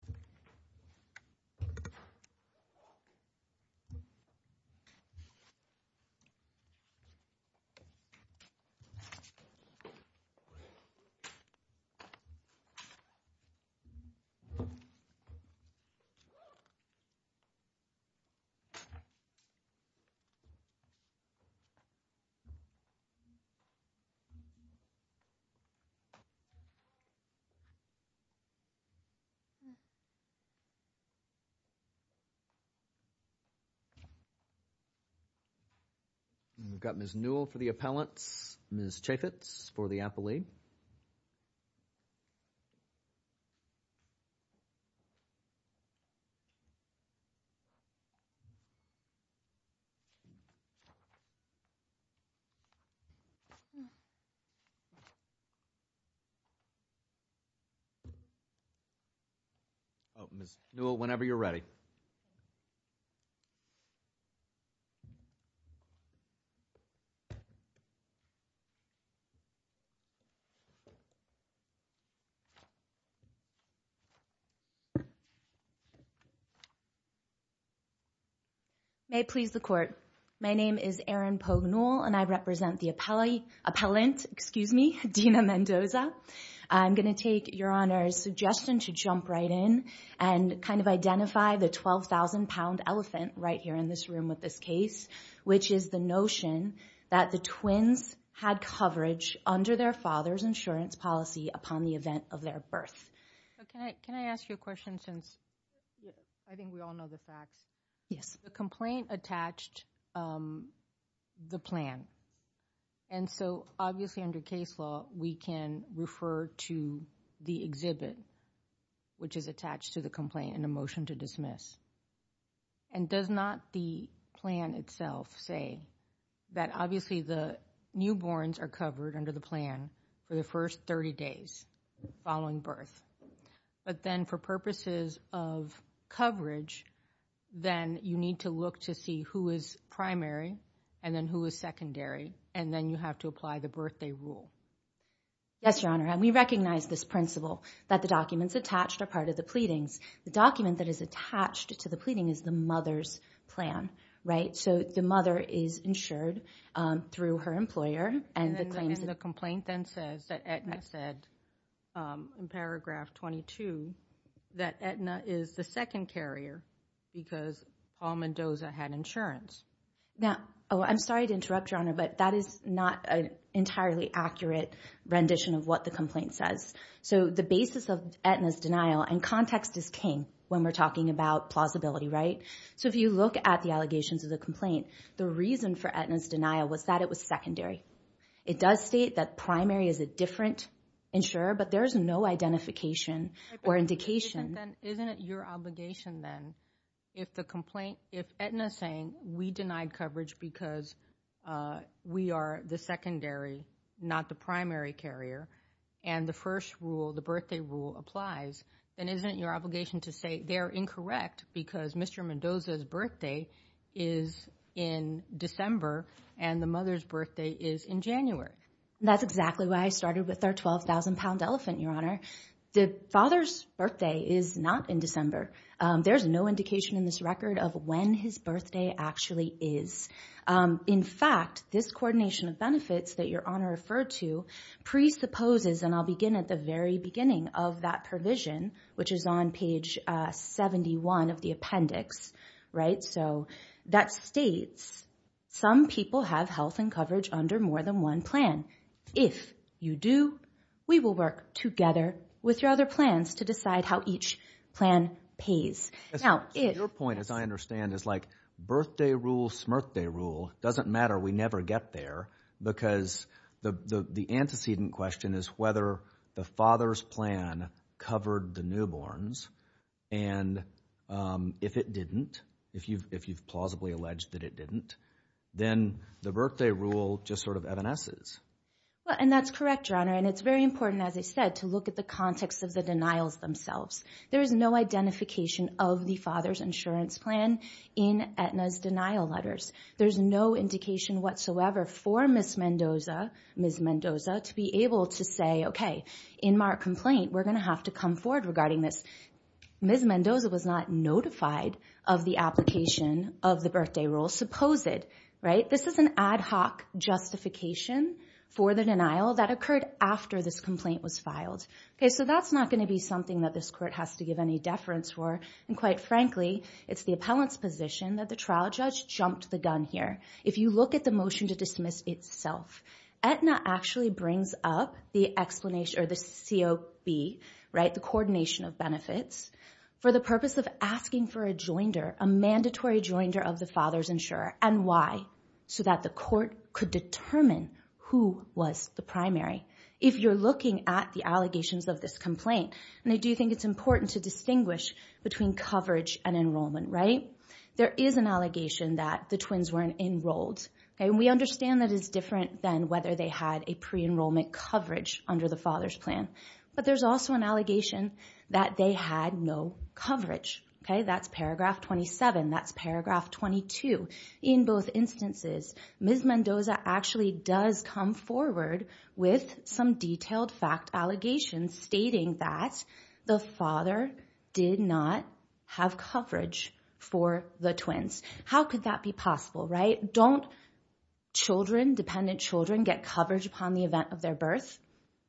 Aetna Life Insurance Company We've got Ms. Newell for the appellants, Ms. Chaffetz for the appellee. Ms. Newell, whenever you're ready. May it please the Court. My name is Erin Pognole and I represent the appellant, excuse me, Dina Mendoza. I'm going to take Your Honor's suggestion to jump right in and kind of identify the 12,000 pound elephant right here in this room with this case, which is the notion that the twins had coverage under their father's insurance policy upon the event of their birth. Can I ask you a question since I think we all know the facts? Yes. The complaint attached the plan and so obviously under case law, we can refer to the exhibit which is attached to the complaint in a motion to dismiss. And does not the plan itself say that obviously the newborns are covered under the plan for the first 30 days following birth? Yes. But then for purposes of coverage, then you need to look to see who is primary and then who is secondary and then you have to apply the birthday rule. Yes, Your Honor, and we recognize this principle that the documents attached are part of the pleadings. The document that is attached to the pleading is the mother's plan, right? So the mother is insured through her employer and the claims that the complaint then says that Aetna said in paragraph 22 that Aetna is the second carrier because Paul Mendoza had insurance. Now, oh, I'm sorry to interrupt, Your Honor, but that is not an entirely accurate rendition of what the complaint says. So the basis of Aetna's denial and context is king when we're talking about plausibility, right? So if you look at the allegations of the complaint, the reason for Aetna's denial was that it was secondary. It does state that primary is a different insurer, but there is no identification or indication. Isn't it your obligation then if the complaint, if Aetna is saying we denied coverage because we are the secondary, not the primary carrier, and the first rule, the birthday rule applies, then isn't it your obligation to say they're incorrect because Mr. Mendoza's birthday is in December and the mother's birthday is in January? That's exactly why I started with our 12,000 pound elephant, Your Honor. The father's birthday is not in December. There's no indication in this record of when his birthday actually is. In fact, this coordination of benefits that Your Honor referred to presupposes, and I'll begin at the very beginning of that provision, which is on page 71 of the appendix, right? So that states, some people have health and coverage under more than one plan. If you do, we will work together with your other plans to decide how each plan pays. Now, if... Your point, as I understand, is like birthday rule, smirthday rule, doesn't matter. We never get there because the antecedent question is whether the father's plan covered the newborns, and if it didn't, if you've plausibly alleged that it didn't, then the birthday rule just sort of evanesces. And that's correct, Your Honor, and it's very important, as I said, to look at the context of the denials themselves. There is no identification of the father's insurance plan in Aetna's denial letters. There's no indication whatsoever for Ms. Mendoza to be able to say, okay, in my complaint, we're going to have to come forward regarding this. Ms. Mendoza was not notified of the application of the birthday rule, supposed, right? This is an ad hoc justification for the denial that occurred after this complaint was filed. Okay, so that's not going to be something that this court has to give any deference for, and quite frankly, it's the appellant's position that the trial judge jumped the gun here. However, if you look at the motion to dismiss itself, Aetna actually brings up the explanation or the COB, right, the coordination of benefits, for the purpose of asking for a joinder, a mandatory joinder of the father's insurer, and why? So that the court could determine who was the primary. If you're looking at the allegations of this complaint, and I do think it's important to distinguish between coverage and enrollment, right? There is an allegation that the twins weren't enrolled, and we understand that it's different than whether they had a pre-enrollment coverage under the father's plan, but there's also an allegation that they had no coverage, okay? That's paragraph 27, that's paragraph 22. In both instances, Ms. Mendoza actually does come forward with some detailed fact allegations stating that the father did not have coverage for the twins. How could that be possible, right? Don't children, dependent children, get coverage upon the event of their birth?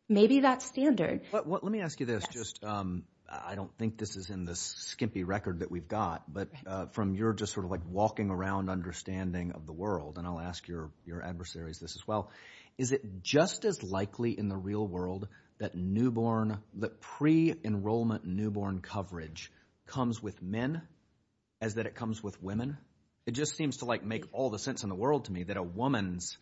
Maybe that's standard. Let me ask you this. Yes. I don't think this is in the skimpy record that we've got, but from your just sort of like walking around understanding of the world, and I'll ask your adversaries this as well, is it just as likely in the real world that newborn, that pre-enrollment newborn coverage comes with men as that it comes with women? It just seems to like make all the sense in the world to me that a woman's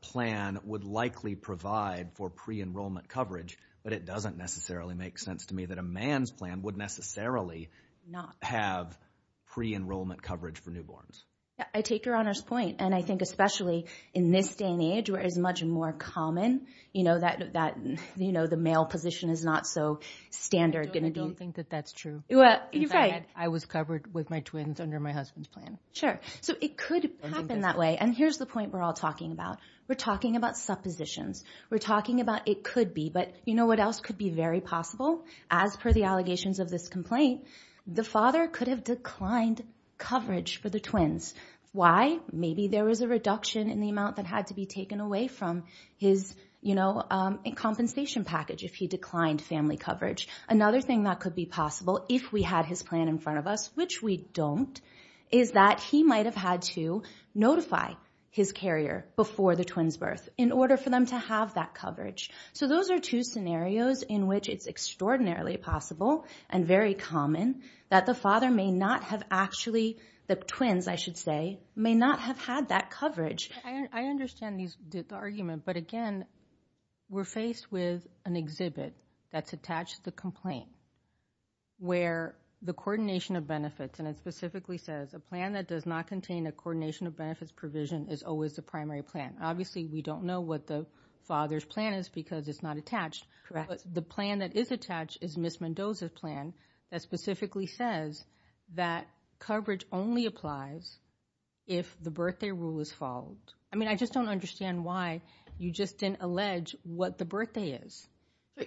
plan would likely provide for pre-enrollment coverage, but it doesn't necessarily make sense to me that a man's plan would necessarily not have pre-enrollment coverage for newborns. I take your Honor's point, and I think especially in this day and age where it's much more common, you know, that, you know, the male position is not so standard going to be. I don't think that that's true. Well, you're right. I was covered with my twins under my husband's plan. Sure. So it could happen that way, and here's the point we're all talking about. We're talking about suppositions. We're talking about it could be, but you know what else could be very possible? As per the allegations of this complaint, the father could have declined coverage for the twins. Why? Maybe there was a reduction in the amount that had to be taken away from his, you know, compensation package if he declined family coverage. Another thing that could be possible if we had his plan in front of us, which we don't, is that he might have had to notify his carrier before the twin's birth in order for them to have that coverage. So those are two scenarios in which it's extraordinarily possible and very common that the father may not have actually, the twins, I should say, may not have had that coverage. I understand the argument, but again, we're faced with an exhibit that's attached to the complaint where the coordination of benefits, and it specifically says a plan that does not contain a coordination of benefits provision is always the primary plan. Obviously, we don't know what the father's plan is because it's not attached. Correct. But the plan that is attached is Ms. Mendoza's plan that specifically says that coverage only applies if the birthday rule is followed. I mean, I just don't understand why you just didn't allege what the birthday is.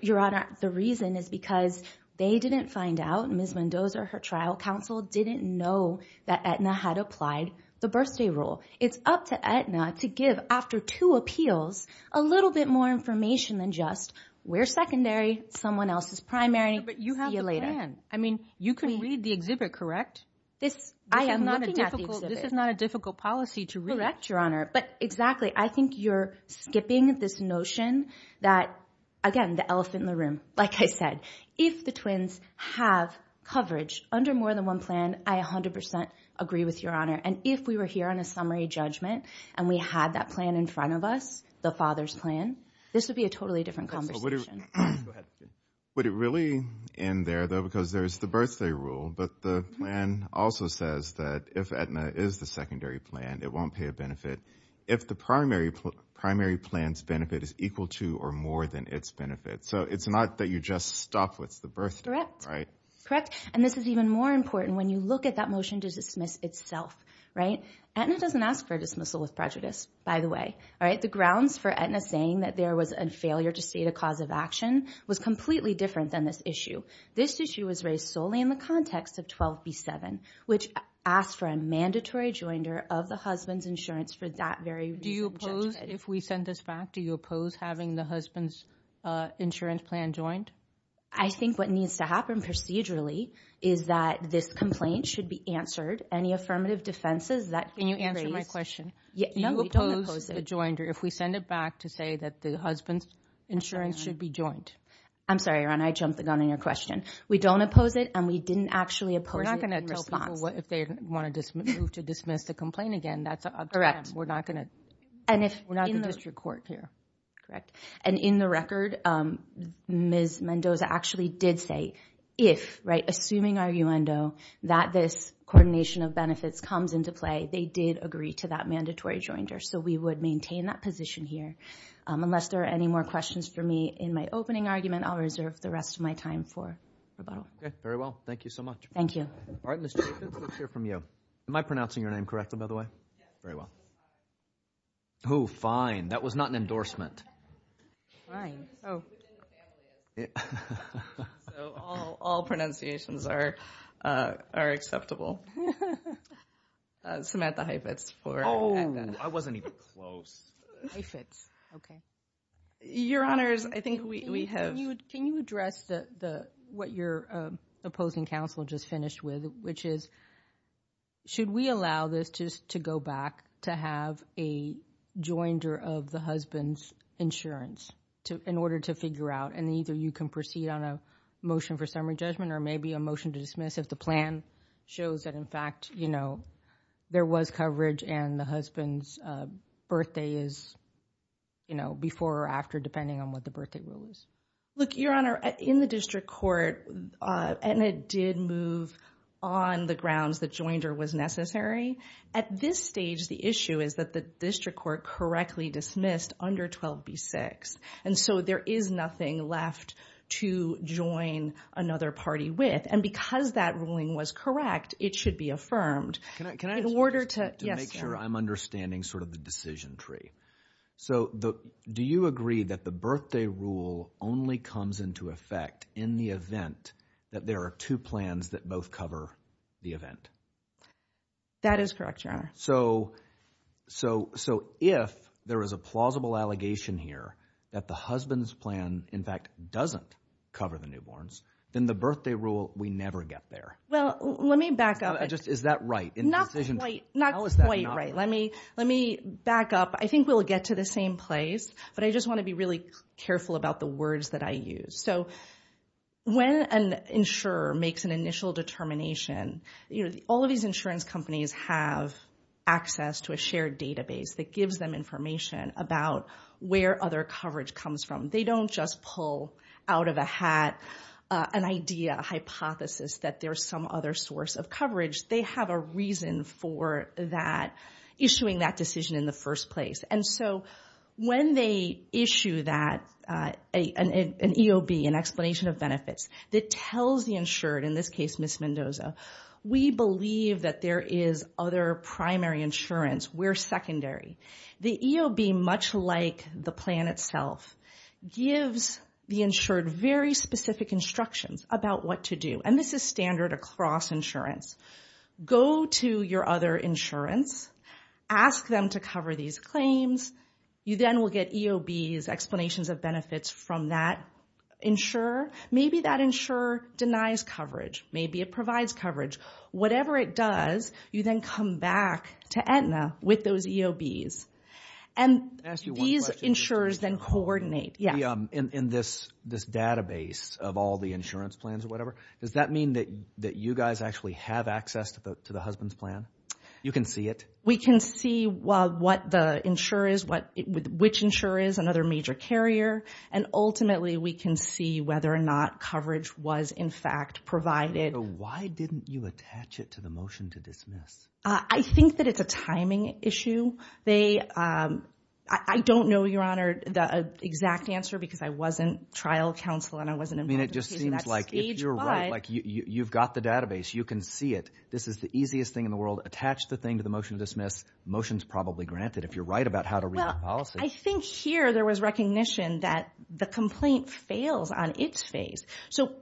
Your Honor, the reason is because they didn't find out, Ms. Mendoza, her trial counsel didn't know that Aetna had applied the birthday rule. It's up to Aetna to give, after two appeals, a little bit more information than just, we're secondary. Someone else is primary. See you later. I mean, you can read the exhibit, correct? I am looking at the exhibit. This is not a difficult policy to read. Correct, Your Honor. But exactly. I think you're skipping this notion that, again, the elephant in the room. Like I said, if the twins have coverage under more than one plan, I 100% agree with Your Honor. And if we were here on a summary judgment and we had that plan in front of us, the father's plan, this would be a totally different conversation. Would it really end there, though, because there's the birthday rule, but the plan also says that if Aetna is the secondary plan, it won't pay a benefit if the primary plan's benefit is equal to or more than its benefit. So it's not that you just stop with the birthday, right? Correct. And this is even more important when you look at that motion to dismiss itself, right? Aetna doesn't ask for a dismissal with prejudice, by the way, all right? The grounds for Aetna saying that there was a failure to state a cause of action was completely different than this issue. This issue was raised solely in the context of 12b-7, which asked for a mandatory joinder of the husband's insurance for that very reason. Do you oppose, if we send this back, do you oppose having the husband's insurance plan joined? I think what needs to happen procedurally is that this complaint should be answered. Any affirmative defenses that can be raised— Can you answer my question? No, we don't oppose it. If we send it back to say that the husband's insurance should be joined? I'm sorry, Ron. I jumped the gun on your question. We don't oppose it, and we didn't actually oppose it in response. We're not going to tell people if they want to move to dismiss the complaint again. That's up to them. We're not going to— And if— We're not the district court here. Correct. And in the record, Ms. Mendoza actually did say, if, right, assuming arguendo, that this coordination of benefits comes into play, they did agree to that mandatory joinder. So we would maintain that position here. Unless there are any more questions for me in my opening argument, I'll reserve the rest of my time for rebuttal. Very well. Thank you so much. Thank you. All right. Ms. Jacobs, let's hear from you. Am I pronouncing your name correctly, by the way? Yes. Very well. Oh, fine. That was not an endorsement. Fine. Oh. So all pronunciations are acceptable. Samantha Heifetz for— Oh. I wasn't— I wasn't even close. Heifetz. Okay. Your Honors, I think we have— Can you address what your opposing counsel just finished with, which is, should we allow this to go back to have a joinder of the husband's insurance in order to figure out—and either you can proceed on a motion for summary judgment or maybe a motion to dismiss if the plan shows that in fact, you know, there was coverage and the husband's birthday is, you know, before or after, depending on what the birthday rule is. Look, Your Honor, in the district court, and it did move on the grounds that joinder was necessary. At this stage, the issue is that the district court correctly dismissed under 12b-6. And so there is nothing left to join another party with. And because that ruling was correct, it should be affirmed. Can I— In order to— Yes, sir. To make sure I'm understanding sort of the decision tree. So do you agree that the birthday rule only comes into effect in the event that there are two plans that both cover the event? That is correct, Your Honor. So if there is a plausible allegation here that the husband's plan, in fact, doesn't cover the newborns, then the birthday rule, we never get there. Well, let me back up. Is that right? Not quite. How is that not right? Let me back up. I think we'll get to the same place, but I just want to be really careful about the words that I use. So when an insurer makes an initial determination, you know, all of these insurance companies have access to a shared database that gives them information about where other coverage comes from. They don't just pull out of a hat an idea, a hypothesis that there's some other source of coverage. They have a reason for that, issuing that decision in the first place. And so when they issue that, an EOB, an explanation of benefits, that tells the insured, in this case Ms. Mendoza, we believe that there is other primary insurance, we're secondary. The EOB, much like the plan itself, gives the insured very specific instructions about what to do. And this is standard across insurance. Go to your other insurance, ask them to cover these claims, you then will get EOBs, explanations of benefits from that insurer. Maybe that insurer denies coverage. Maybe it provides coverage. Whatever it does, you then come back to Aetna with those EOBs. And these insurers then coordinate. In this database of all the insurance plans or whatever, does that mean that you guys actually have access to the husband's plan? You can see it? We can see what the insurer is, which insurer is, another major carrier. And ultimately we can see whether or not coverage was in fact provided. So why didn't you attach it to the motion to dismiss? I think that it's a timing issue. I don't know, Your Honor, the exact answer because I wasn't trial counsel and I wasn't involved in the case. I mean, it just seems like if you're right, you've got the database, you can see it. This is the easiest thing in the world. Attach the thing to the motion to dismiss, motion's probably granted if you're right about how to read the policy. Well, I think here there was recognition that the complaint fails on its face. So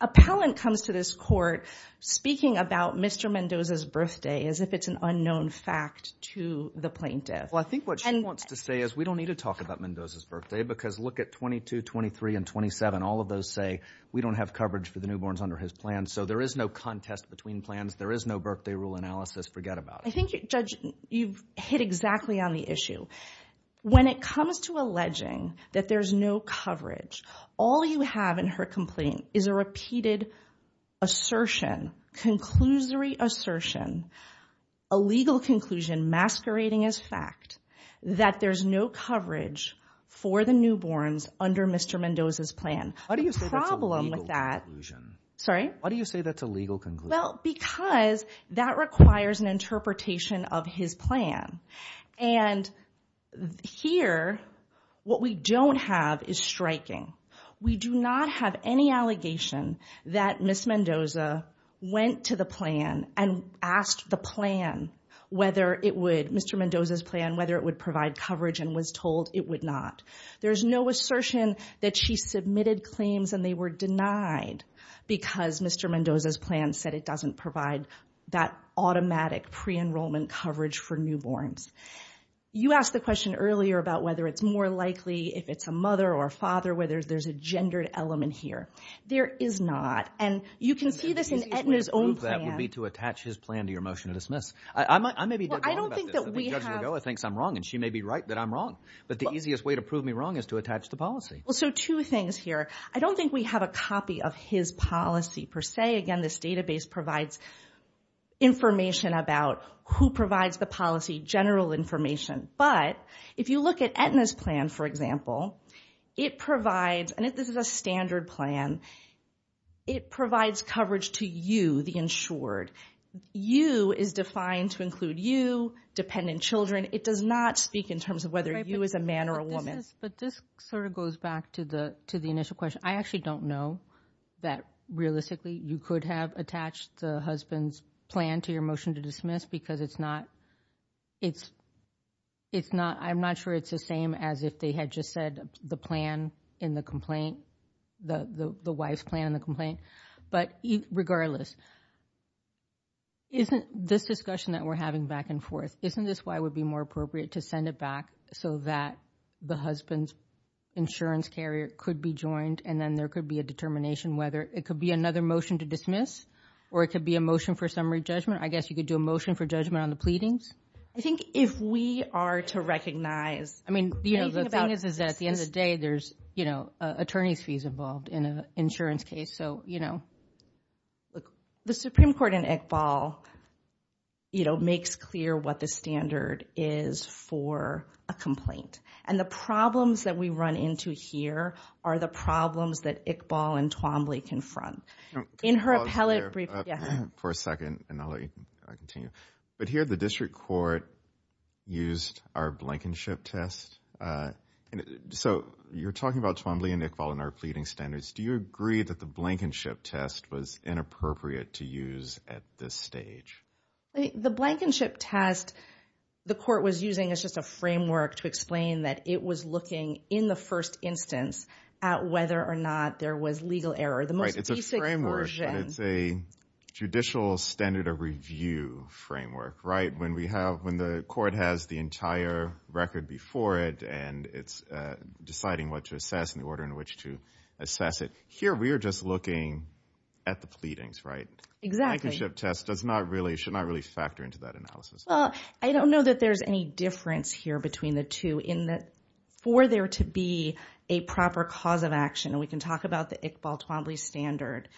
appellant comes to this court speaking about Mr. Mendoza's birthday as if it's an unknown fact to the plaintiff. Well, I think what she wants to say is we don't need to talk about Mendoza's birthday because look at 22, 23, and 27. All of those say we don't have coverage for the newborns under his plan. So there is no contest between plans. There is no birthday rule analysis. Forget about it. I think, Judge, you've hit exactly on the issue. When it comes to alleging that there's no coverage, all you have in her complaint is a repeated assertion, conclusory assertion, a legal conclusion masquerading as fact that there's no coverage for the newborns under Mr. Mendoza's plan. Why do you say that's a legal conclusion? Why do you say that's a legal conclusion? Well, because that requires an interpretation of his plan. And here, what we don't have is striking. We do not have any allegation that Ms. Mendoza went to the plan and asked the plan whether it would, Mr. Mendoza's plan, whether it would provide coverage and was told it would not. There's no assertion that she submitted claims and they were denied because Mr. Mendoza's plan said it doesn't provide that automatic pre-enrollment coverage for newborns. You asked the question earlier about whether it's more likely if it's a mother or a father, whether there's a gendered element here. There is not. And you can see this in Aetna's own plan. The easiest way to prove that would be to attach his plan to your motion to dismiss. I may be dead wrong about this. Well, I don't think that we have. The judge in the goal thinks I'm wrong, and she may be right that I'm wrong. But the easiest way to prove me wrong is to attach the policy. Well, so two things here. I don't think we have a copy of his policy, per se. Again, this database provides information about who provides the policy, general information. But if you look at Aetna's plan, for example, it provides, and this is a standard plan, it provides coverage to you, the insured. You is defined to include you, dependent children. It does not speak in terms of whether you as a man or a woman. But this sort of goes back to the initial question. I actually don't know that realistically you could have attached the husband's plan to your motion to dismiss because it's not, I'm not sure it's the same as if they had just said the plan in the complaint, the wife's plan in the complaint. But regardless, isn't this discussion that we're having back and forth, isn't this why it would be more appropriate to send it back so that the husband's insurance carrier could be joined, and then there could be a determination whether it could be another motion to dismiss, or it could be a motion for summary judgment. I guess you could do a motion for judgment on the pleadings. I think if we are to recognize, I mean, the thing is that at the end of the day, there's attorney's fees involved in an insurance case, so, you know. The Supreme Court in Iqbal makes clear what the standard is for a complaint. And the problems that we run into here are the problems that Iqbal and Twombly confront. In her appellate brief, yeah. For a second, and I'll let you continue. But here the district court used our blankenship test. So you're talking about Twombly and Iqbal and our pleading standards. Do you agree that the blankenship test was inappropriate to use at this stage? The blankenship test the court was using is just a framework to explain that it was looking in the first instance at whether or not there was legal error. The most basic version. It's a judicial standard of review framework, right? When we have, when the court has the entire record before it, and it's deciding what to assess and the order in which to assess it. Here we are just looking at the pleadings, right? Exactly. So the blankenship test does not really, should not really factor into that analysis. Well, I don't know that there's any difference here between the two in that for there to be a proper cause of action, and we can talk about the Iqbal-Twombly standard.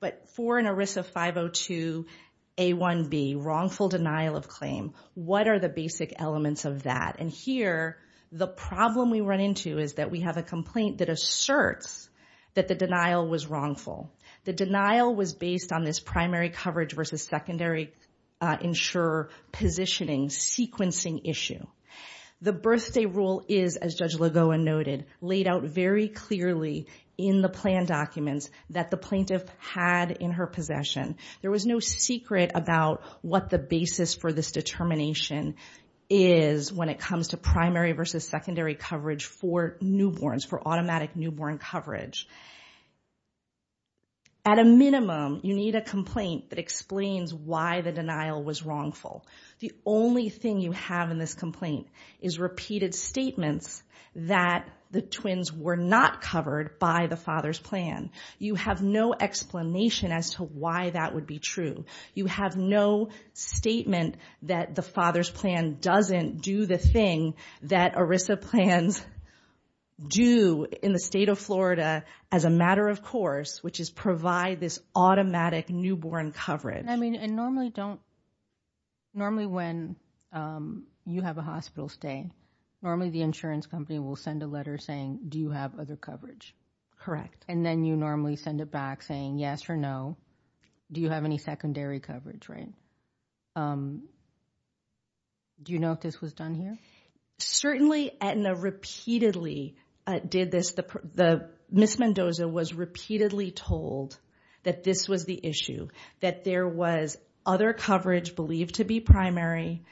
But for an ERISA 502A1B, wrongful denial of claim, what are the basic elements of that? And here the problem we run into is that we have a complaint that asserts that the denial was wrongful. The denial was based on this primary coverage versus secondary insurer positioning sequencing issue. The birthday rule is, as Judge Lagoa noted, laid out very clearly in the plan documents that the plaintiff had in her possession. There was no secret about what the basis for this determination is when it comes to primary versus secondary coverage for newborns, for automatic newborn coverage. At a minimum, you need a complaint that explains why the denial was wrongful. The only thing you have in this complaint is repeated statements that the twins were not covered by the father's plan. You have no explanation as to why that would be true. You have no statement that the father's plan doesn't do the thing that ERISA plans do in the state of Florida as a matter of course, which is provide this automatic newborn coverage. I mean, and normally don't, normally when you have a hospital stay, normally the insurance company will send a letter saying, do you have other coverage? Correct. And then you normally send it back saying yes or no. Do you have any secondary coverage, right? Do you know if this was done here? Certainly, Aetna repeatedly did this. Ms. Mendoza was repeatedly told that this was the issue, that there was other coverage believed to be primary,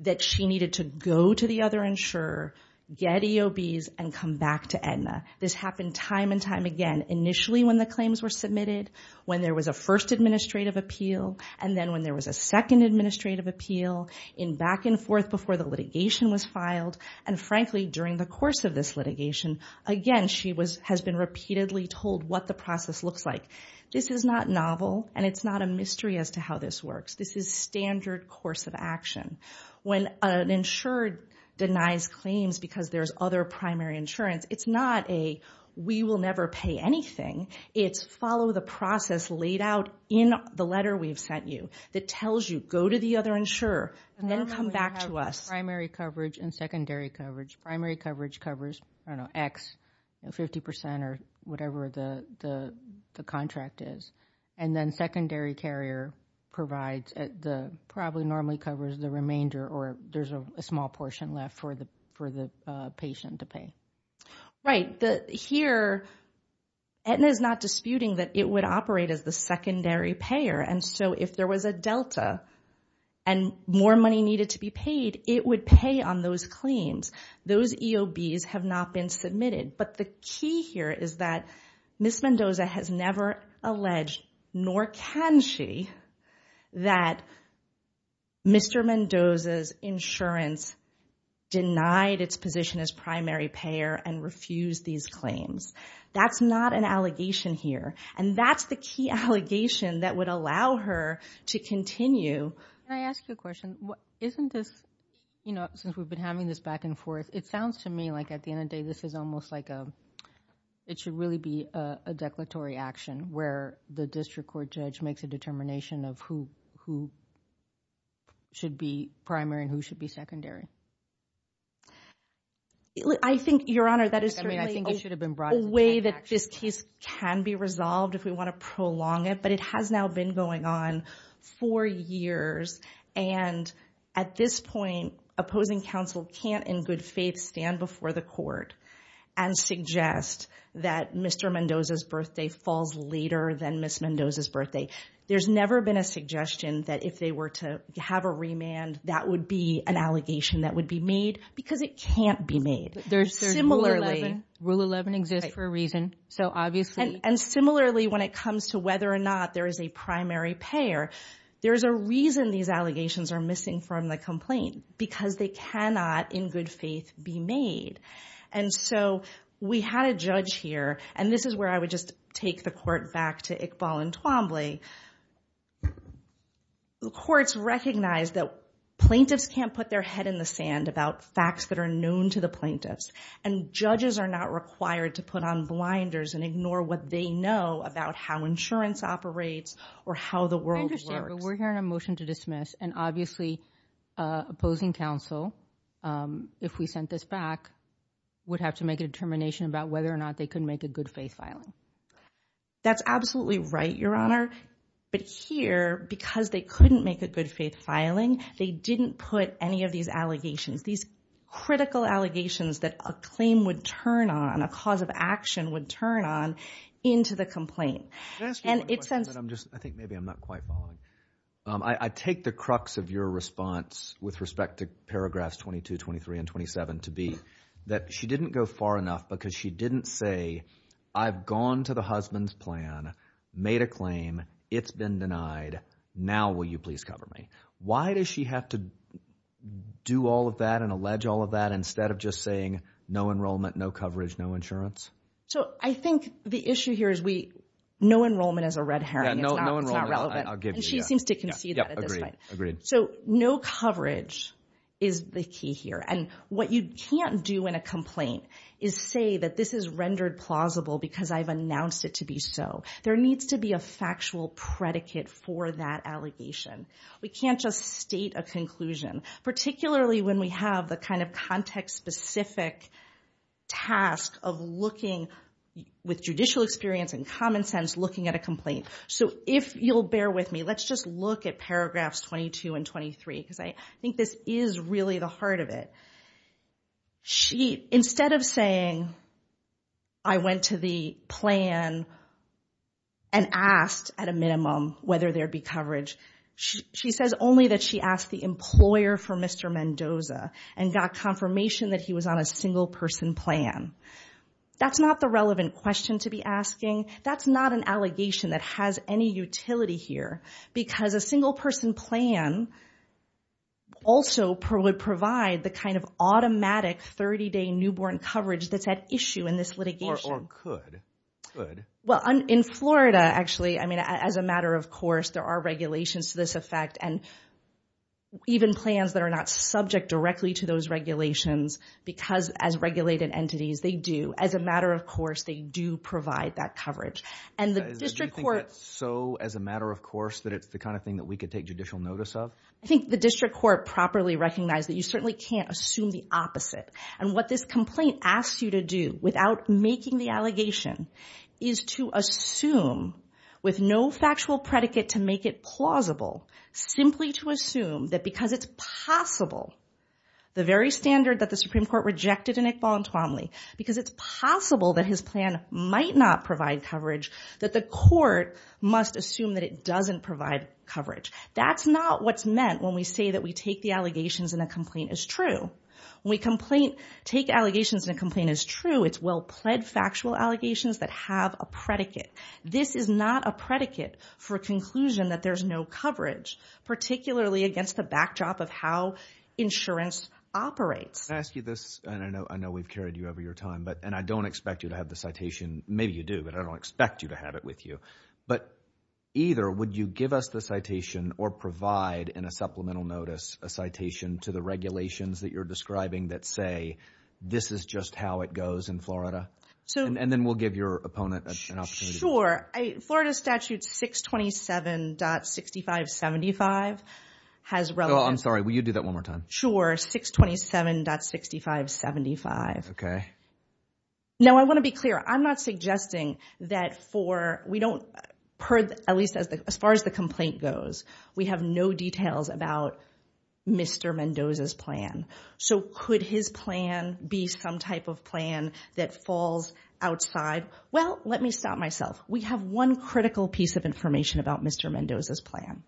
that she needed to go to the other insurer, get EOBs, and come back to Aetna. This happened time and time again, initially when the claims were submitted, when there was a first administrative appeal, and then when there was a second administrative appeal, in back and forth before the litigation was filed. And frankly, during the course of this litigation, again, she has been repeatedly told what the process looks like. This is not novel, and it's not a mystery as to how this works. This is standard course of action. When an insurer denies claims because there's other primary insurance, it's not a, we will never pay anything. It's follow the process laid out in the letter we've sent you that tells you, go to the other insurer, and then come back to us. Primary coverage and secondary coverage. Primary coverage covers, I don't know, X, 50% or whatever the contract is. And then secondary carrier provides, probably normally covers the remainder, or there's a small portion left for the patient to pay. Right. Here, Aetna is not disputing that it would operate as the secondary payer. And so if there was a delta, and more money needed to be paid, it would pay on those claims. Those EOBs have not been submitted. But the key here is that Ms. Mendoza has never alleged, nor can she, that Mr. Mendoza's insurance denied its position as primary payer and refused these claims. That's not an allegation here. And that's the key allegation that would allow her to continue. Can I ask you a question? Isn't this, you know, since we've been having this back and forth, it sounds to me like at the end of the day, this is almost like a, it should really be a declaratory action where the district court judge makes a determination of who should be primary and who should be secondary. I think, Your Honor, that is certainly a way that this case can be resolved. If we want to prolong it, but it has now been going on for years. And at this point, opposing counsel can't, in good faith, stand before the court and suggest that Mr. Mendoza's birthday falls later than Ms. Mendoza's birthday. There's never been a suggestion that if they were to have a remand, that would be an allegation that would be made, because it can't be made. There's similarly- Rule 11 exists for a reason. So obviously- And similarly, when it comes to whether or not there is a primary payer, there's a reason these allegations are missing from the complaint, because they cannot, in good faith, be made. And so we had a judge here, and this is where I would just take the court back to Iqbal and Twombly. The courts recognize that plaintiffs can't put their head in the sand about facts that are known to the plaintiffs, and judges are not required to put on blinders and ignore what they know about how insurance operates or how the world works. I understand, but we're hearing a motion to dismiss, and obviously, opposing counsel, if we sent this back, would have to make a determination about whether or not they could make a good faith filing. That's absolutely right, Your Honor. But here, because they couldn't make a good faith filing, they didn't put any of these allegations, these critical allegations that a claim would turn on, a cause of action would turn on, into the complaint. And it sends... I think maybe I'm not quite following. I take the crux of your response with respect to paragraphs 22, 23, and 27 to be that she didn't go far enough because she didn't say, I've gone to the husband's plan, made a claim, it's been denied, now will you please cover me? Why does she have to do all of that and allege all of that instead of just saying, no enrollment, no coverage, no insurance? So I think the issue here is we... No enrollment is a red herring. It's not relevant. I'll give you that. And she seems to concede that at this point. Agreed, agreed. So no coverage is the key here. And what you can't do in a complaint is say that this is rendered plausible because I've announced it to be so. There needs to be a factual predicate for that allegation. We can't just state a conclusion, particularly when we have the kind of context specific task of looking with judicial experience and common sense, looking at a complaint. So if you'll bear with me, let's just look at paragraphs 22 and 23 because I think this is really the heart of it. Instead of saying, I went to the plan and asked at a minimum whether there'd be coverage. She says only that she asked the employer for Mr. Mendoza and got confirmation that he was on a single person plan. That's not the relevant question to be asking. That's not an allegation that has any utility here because a single person plan also would provide the kind of automatic 30 day newborn coverage that's at issue in this litigation. Or could. Could. Well, in Florida, actually, I mean, as a matter of course, there are regulations to this effect and even plans that are not subject directly to those regulations because as regulated entities, they do as a matter of course, they do provide that coverage and the district court. So as a matter of course, that it's the kind of thing that we could take judicial notice of. I think the district court properly recognized that you certainly can't assume the opposite. And what this complaint asks you to do without making the allegation is to assume with no factual predicate to make it plausible, simply to assume that because it's possible, the very standard that the Supreme Court rejected in Iqbal and Twomley, because it's possible that his plan might not provide coverage, that the court must assume that it doesn't provide coverage. That's not what's meant when we say that we take the allegations and the complaint is true. When we take allegations and the complaint is true, it's well pled factual allegations that have a predicate. This is not a predicate for a conclusion that there's no coverage, particularly against the backdrop of how insurance operates. Can I ask you this? And I know, I know we've carried you over your time, but, and I don't expect you to have the citation. Maybe you do, but I don't expect you to have it with you. But either, would you give us the citation or provide in a supplemental notice, a citation to the regulations that you're describing that say, this is just how it goes in Florida. And then we'll give your opponent an opportunity. Florida statute 627.6575 has relevant... I'm sorry, will you do that one more time? Sure. 627.6575. Okay. Now, I want to be clear. I'm not suggesting that for, we don't, at least as far as the complaint goes, we have no details about Mr. Mendoza's plan. So could his plan be some type of plan that falls outside? Well, let me stop myself. We have one critical piece of information about Mr. Mendoza's plan.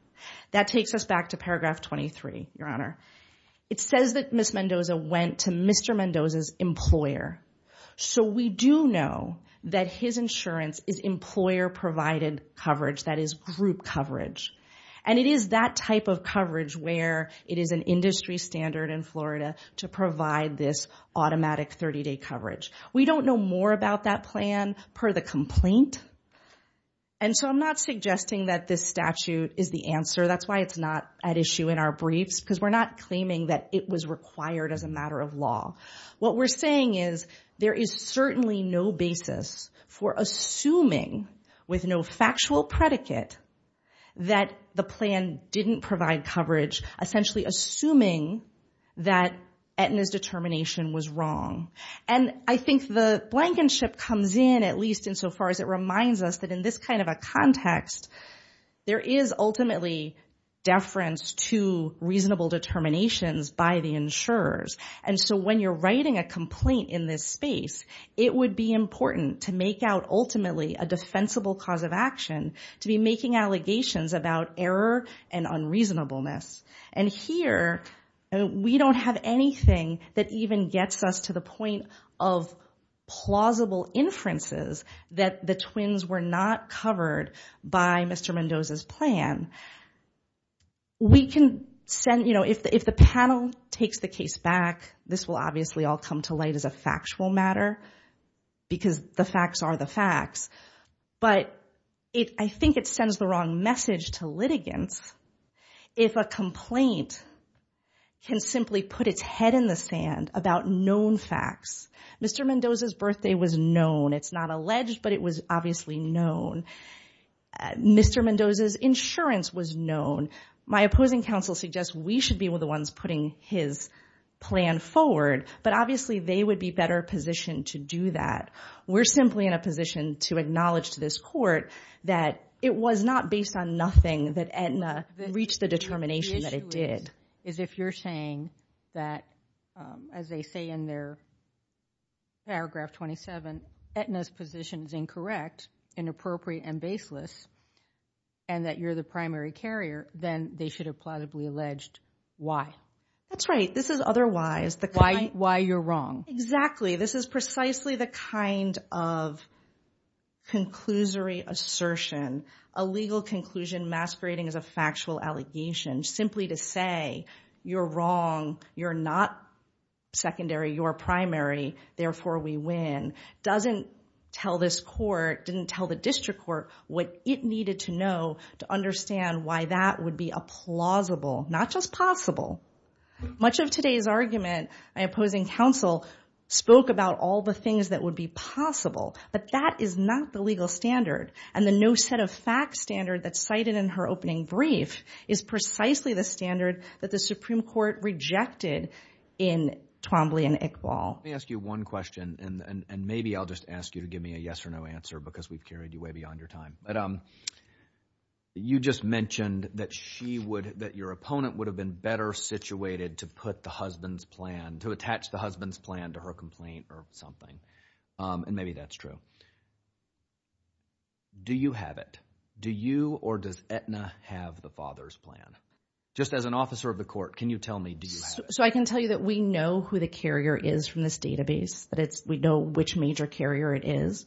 That takes us back to paragraph 23, your honor. It says that Ms. Mendoza went to Mr. Mendoza's employer. So we do know that his insurance is employer provided coverage, that is group coverage. And it is that type of coverage where it is an industry standard in Florida to provide this automatic 30-day coverage. We don't know more about that plan per the complaint. And so I'm not suggesting that this statute is the answer. That's why it's not at issue in our briefs, because we're not claiming that it was required as a matter of law. What we're saying is there is certainly no basis for assuming with no factual predicate that the plan didn't provide coverage, essentially assuming that Aetna's determination was wrong. And I think the blankenship comes in, at least insofar as it reminds us that in this kind of a context, there is ultimately deference to reasonable determinations by the insurers. And so when you're writing a complaint in this space, it would be important to make out ultimately a defensible cause of action to be making allegations about error and unreasonableness. And here, we don't have anything that even gets us to the point of plausible inferences that the twins were not covered by Mr. Mendoza's plan. We can send, you know, if the panel takes the case back, this will obviously all come to light as a factual matter, because the facts are the facts. But I think it sends the wrong message to litigants if a complaint can simply put its head in the sand about known facts. Mr. Mendoza's birthday was known. It's not alleged, but it was obviously known. And Mr. Mendoza's insurance was known. My opposing counsel suggests we should be the ones putting his plan forward, but obviously they would be better positioned to do that. We're simply in a position to acknowledge to this court that it was not based on nothing that Aetna reached the determination that it did. Is if you're saying that, as they say in their paragraph 27, Aetna's position is incorrect, inappropriate, and baseless, and that you're the primary carrier, then they should have plausibly alleged why. That's right. This is otherwise. Why you're wrong. Exactly. This is precisely the kind of conclusory assertion, a legal conclusion masquerading as a factual allegation simply to say you're wrong, you're not secondary, you're primary, therefore we win, doesn't tell this court, didn't tell the district court what it needed to know to understand why that would be a plausible, not just possible. Much of today's argument, my opposing counsel spoke about all the things that would be possible, but that is not the legal standard. And the no set of facts standard that's cited in her opening brief is precisely the standard that the Supreme Court rejected in Twombly and Iqbal. Let me ask you one question and maybe I'll just ask you to give me a yes or no answer because we've carried you way beyond your time. You just mentioned that she would, that your opponent would have been better situated to put the husband's plan, to attach the husband's plan to her complaint or something, and maybe that's true. Do you have it? Do you or does Aetna have the father's plan? Just as an officer of the court, can you tell me do you have it? So I can tell you that we know who the carrier is from this database, that we know which major carrier it is.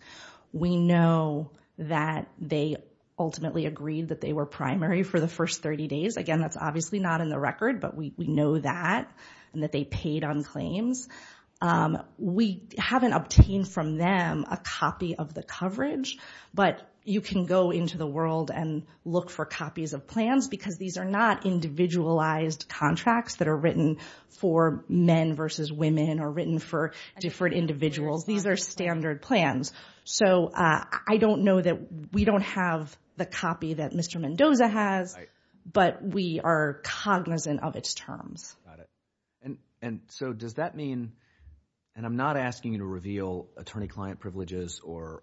We know that they ultimately agreed that they were primary for the first 30 days. Again, that's obviously not in the record, but we know that and that they paid on claims. We haven't obtained from them a copy of the coverage, but you can go into the world and look for copies of plans because these are not individualized contracts that are written for men versus women or written for different individuals. These are standard plans. So I don't know that, we don't have the copy that Mr. Mendoza has, but we are cognizant of its terms. And so does that mean, and I'm not asking you to reveal attorney-client privileges or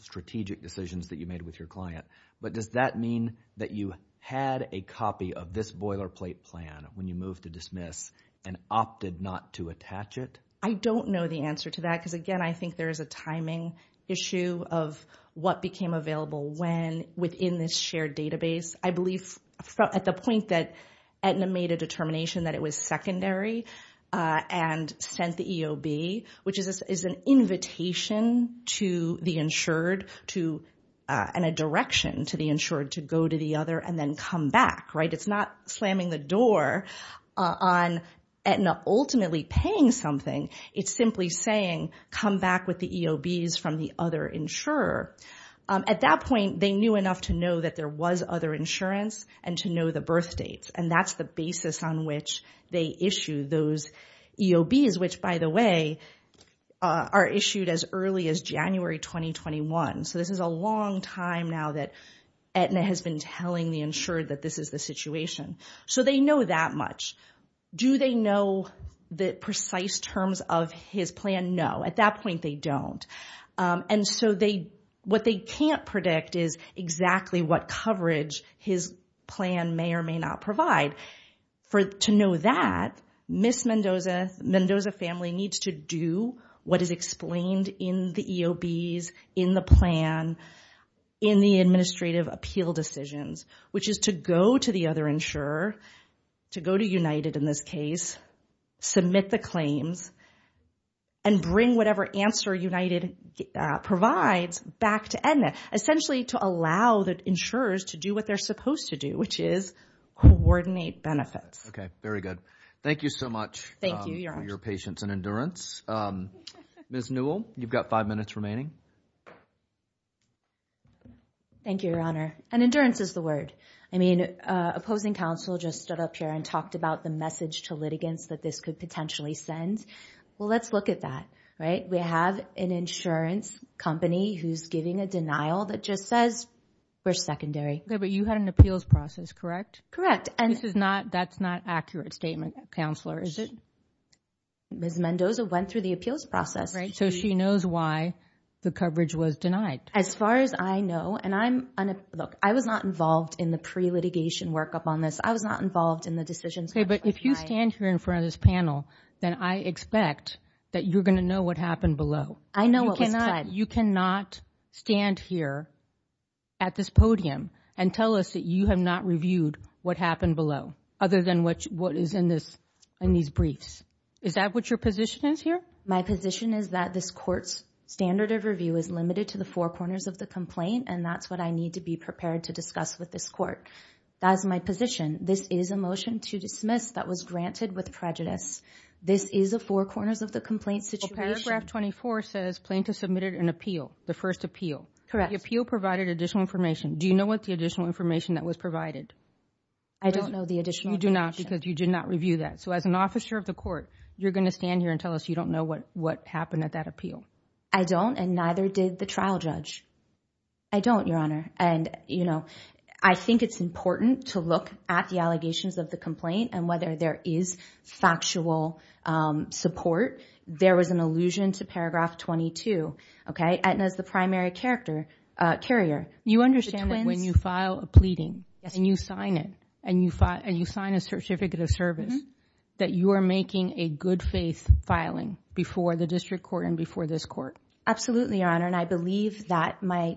strategic decisions that you made with your client, but does that mean that you had a copy of this boilerplate plan when you moved to dismiss and opted not to attach it? I don't know the answer to that because, again, I think there is a timing issue of what became available when within this shared database. I believe at the point that Aetna made a determination that it was secondary and sent the EOB, which is an invitation to the insured and a direction to the insured to go to the other and then come back, right? It's not slamming the door on Aetna ultimately paying something. It's simply saying, come back with the EOBs from the other insurer. At that point, they knew enough to know that there was other insurance and to know the birth dates. And that's the basis on which they issue those EOBs, which by the way, are issued as early as January 2021. So this is a long time now that Aetna has been telling the insured that this is the situation. So they know that much. Do they know the precise terms of his plan? No. At that point, they don't. And so what they can't predict is exactly what coverage his plan may or may not provide. To know that, Ms. Mendoza's family needs to do what is explained in the EOBs, in the plan, in the administrative appeal decisions, which is to go to the other insurer, to go to United in this case, submit the claims, and bring whatever answer United provides back to Aetna. Essentially to allow the insurers to do what they're supposed to do, which is coordinate benefits. Okay. Very good. Thank you so much. Thank you, Your Honor. For your patience and endurance. Ms. Newell, you've got five minutes remaining. Thank you, Your Honor. And endurance is the word. I mean, opposing counsel just stood up here and talked about the message to litigants that this could potentially send. Well, let's look at that, right? We have an insurance company who's giving a denial that just says we're secondary. Okay, but you had an appeals process, correct? And this is not, that's not accurate statement, Counselor, is it? Ms. Mendoza went through the appeals process. Right. So she knows why the coverage was denied. As far as I know, and I'm, look, I was not involved in the pre-litigation workup on this. I was not involved in the decision. Okay, but if you stand here in front of this panel, then I expect that you're going to know what happened below. I know what was planned. You cannot stand here at this podium and tell us that you have not reviewed what happened below other than what is in this, in these briefs. Is that what your position is here? My position is that this court's standard of review is limited to the four corners of the complaint, and that's what I need to be prepared to discuss with this court. That is my position. This is a motion to dismiss that was granted with prejudice. This is a four corners of the complaint situation. Well, paragraph 24 says plaintiff submitted an appeal, the first appeal. Correct. The appeal provided additional information. Do you know what the additional information that was provided? I don't know the additional information. You do not, because you did not review that. So, as an officer of the court, you're going to stand here and tell us you don't know what happened at that appeal. I don't, and neither did the trial judge. I don't, Your Honor, and you know, I think it's important to look at the allegations of the complaint and whether there is factual support. There was an allusion to paragraph 22, okay, and as the primary character, carrier. You understand that when you file a pleading, and you sign it, and you sign a certificate of service, that you are making a good faith filing before the district court and before this court. Absolutely, Your Honor, and I believe that my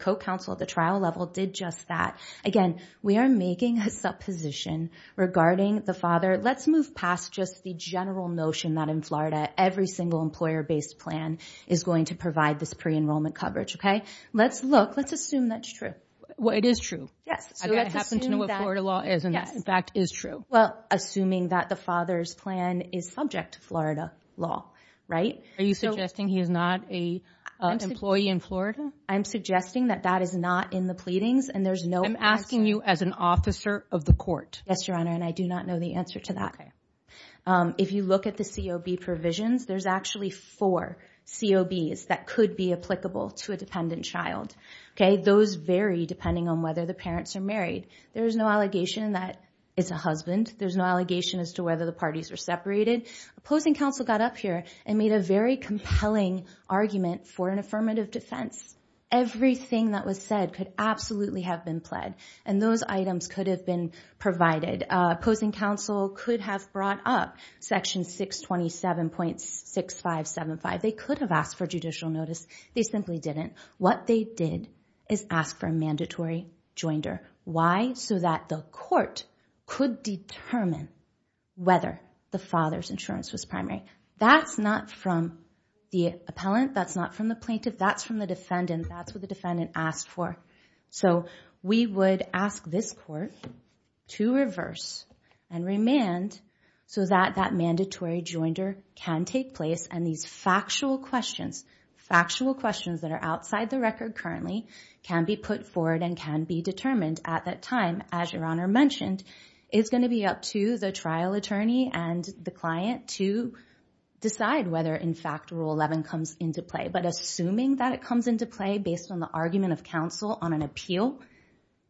co-counsel at the trial level did just that. Again, we are making a supposition regarding the father. Let's move past just the general notion that in Florida, every single employer-based plan is going to provide this pre-enrollment coverage, okay? Let's look, let's assume that's true. Well, it is true. Yes. I happen to know what Florida law is, and that, in fact, is true. Well, assuming that the father's plan is subject to Florida law, right? Are you suggesting he is not an employee in Florida? I'm suggesting that that is not in the pleadings, and there's no answer. I'm asking you as an officer of the court. Yes, Your Honor, and I do not know the answer to that. If you look at the COB provisions, there's actually four COBs that could be applicable to a dependent child, okay? Those vary depending on whether the parents are married. There's no allegation that it's a husband. There's no allegation as to whether the parties are separated. Opposing counsel got up here and made a very compelling argument for an affirmative defense. Everything that was said could absolutely have been pled, and those items could have been provided. Opposing counsel could have brought up Section 627.6575. They could have asked for judicial notice. They simply didn't. What they did is ask for a mandatory joinder. Why? So that the court could determine whether the father's insurance was primary. That's not from the appellant. That's not from the plaintiff. That's from the defendant. That's what the defendant asked for. So we would ask this court to reverse and remand so that that mandatory joinder can take place, and these factual questions, factual questions that are outside the record currently, can be put forward and can be determined at that time. As Your Honor mentioned, it's going to be up to the trial attorney and the client to decide whether, in fact, Rule 11 comes into play. But assuming that it comes into play based on the argument of counsel on an appeal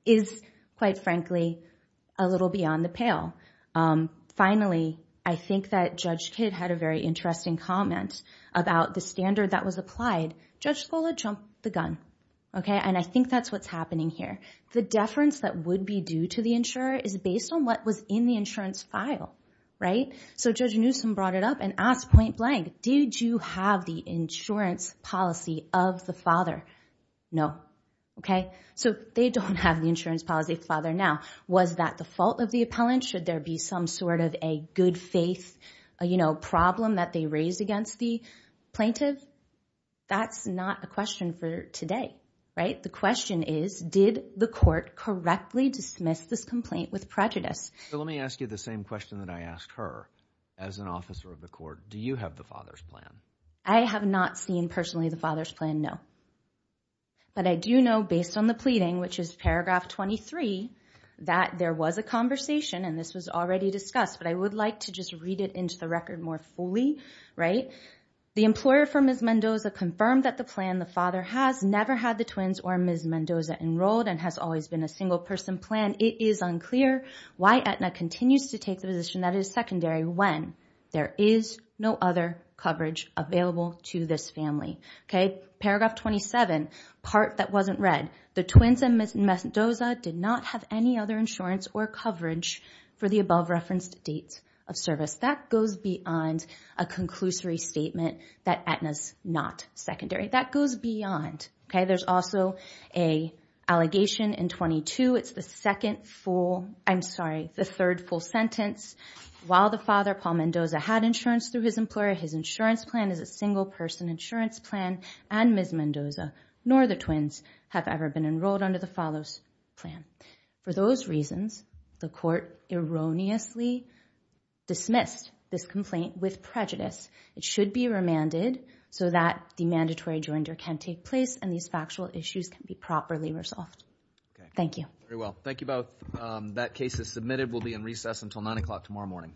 is, quite frankly, a little beyond the pale. Finally, I think that Judge Kidd had a very interesting comment about the standard that was applied. Judge Scola jumped the gun. And I think that's what's happening here. The deference that would be due to the insurer is based on what was in the insurance file. So Judge Newsom brought it up and asked point blank, did you have the insurance policy of the father? No. Okay? So they don't have the insurance policy of the father now. Was that the fault of the appellant? Should there be some sort of a good faith problem that they raised against the plaintiff? That's not a question for today, right? The question is, did the court correctly dismiss this complaint with prejudice? Let me ask you the same question that I asked her. As an officer of the court, do you have the father's plan? I have not seen personally the father's plan, no. But I do know, based on the pleading, which is paragraph 23, that there was a conversation and this was already discussed, but I would like to just read it into the record more fully, right? The employer for Ms. Mendoza confirmed that the plan the father has never had the twins or Ms. Mendoza enrolled and has always been a single person plan. It is unclear why Aetna continues to take the position that it is secondary when there is no other coverage available to this family. Okay? Paragraph 27, part that wasn't read. The twins and Ms. Mendoza did not have any other insurance or coverage for the above referenced date of service. That goes beyond a conclusory statement that Aetna's not secondary. That goes beyond. Okay? There's also an allegation in 22. It's the second full, I'm sorry, the third full sentence. While the father, Paul Mendoza, had insurance through his employer, his insurance plan is a single person insurance plan and Ms. Mendoza nor the twins have ever been enrolled under the follows plan. For those reasons, the court erroneously dismissed this complaint with prejudice. It should be remanded so that the mandatory joinder can take place and these factual issues can be properly resolved. Thank you. Very well. Thank you both. That case is submitted. We'll be in recess until 9 o'clock tomorrow morning.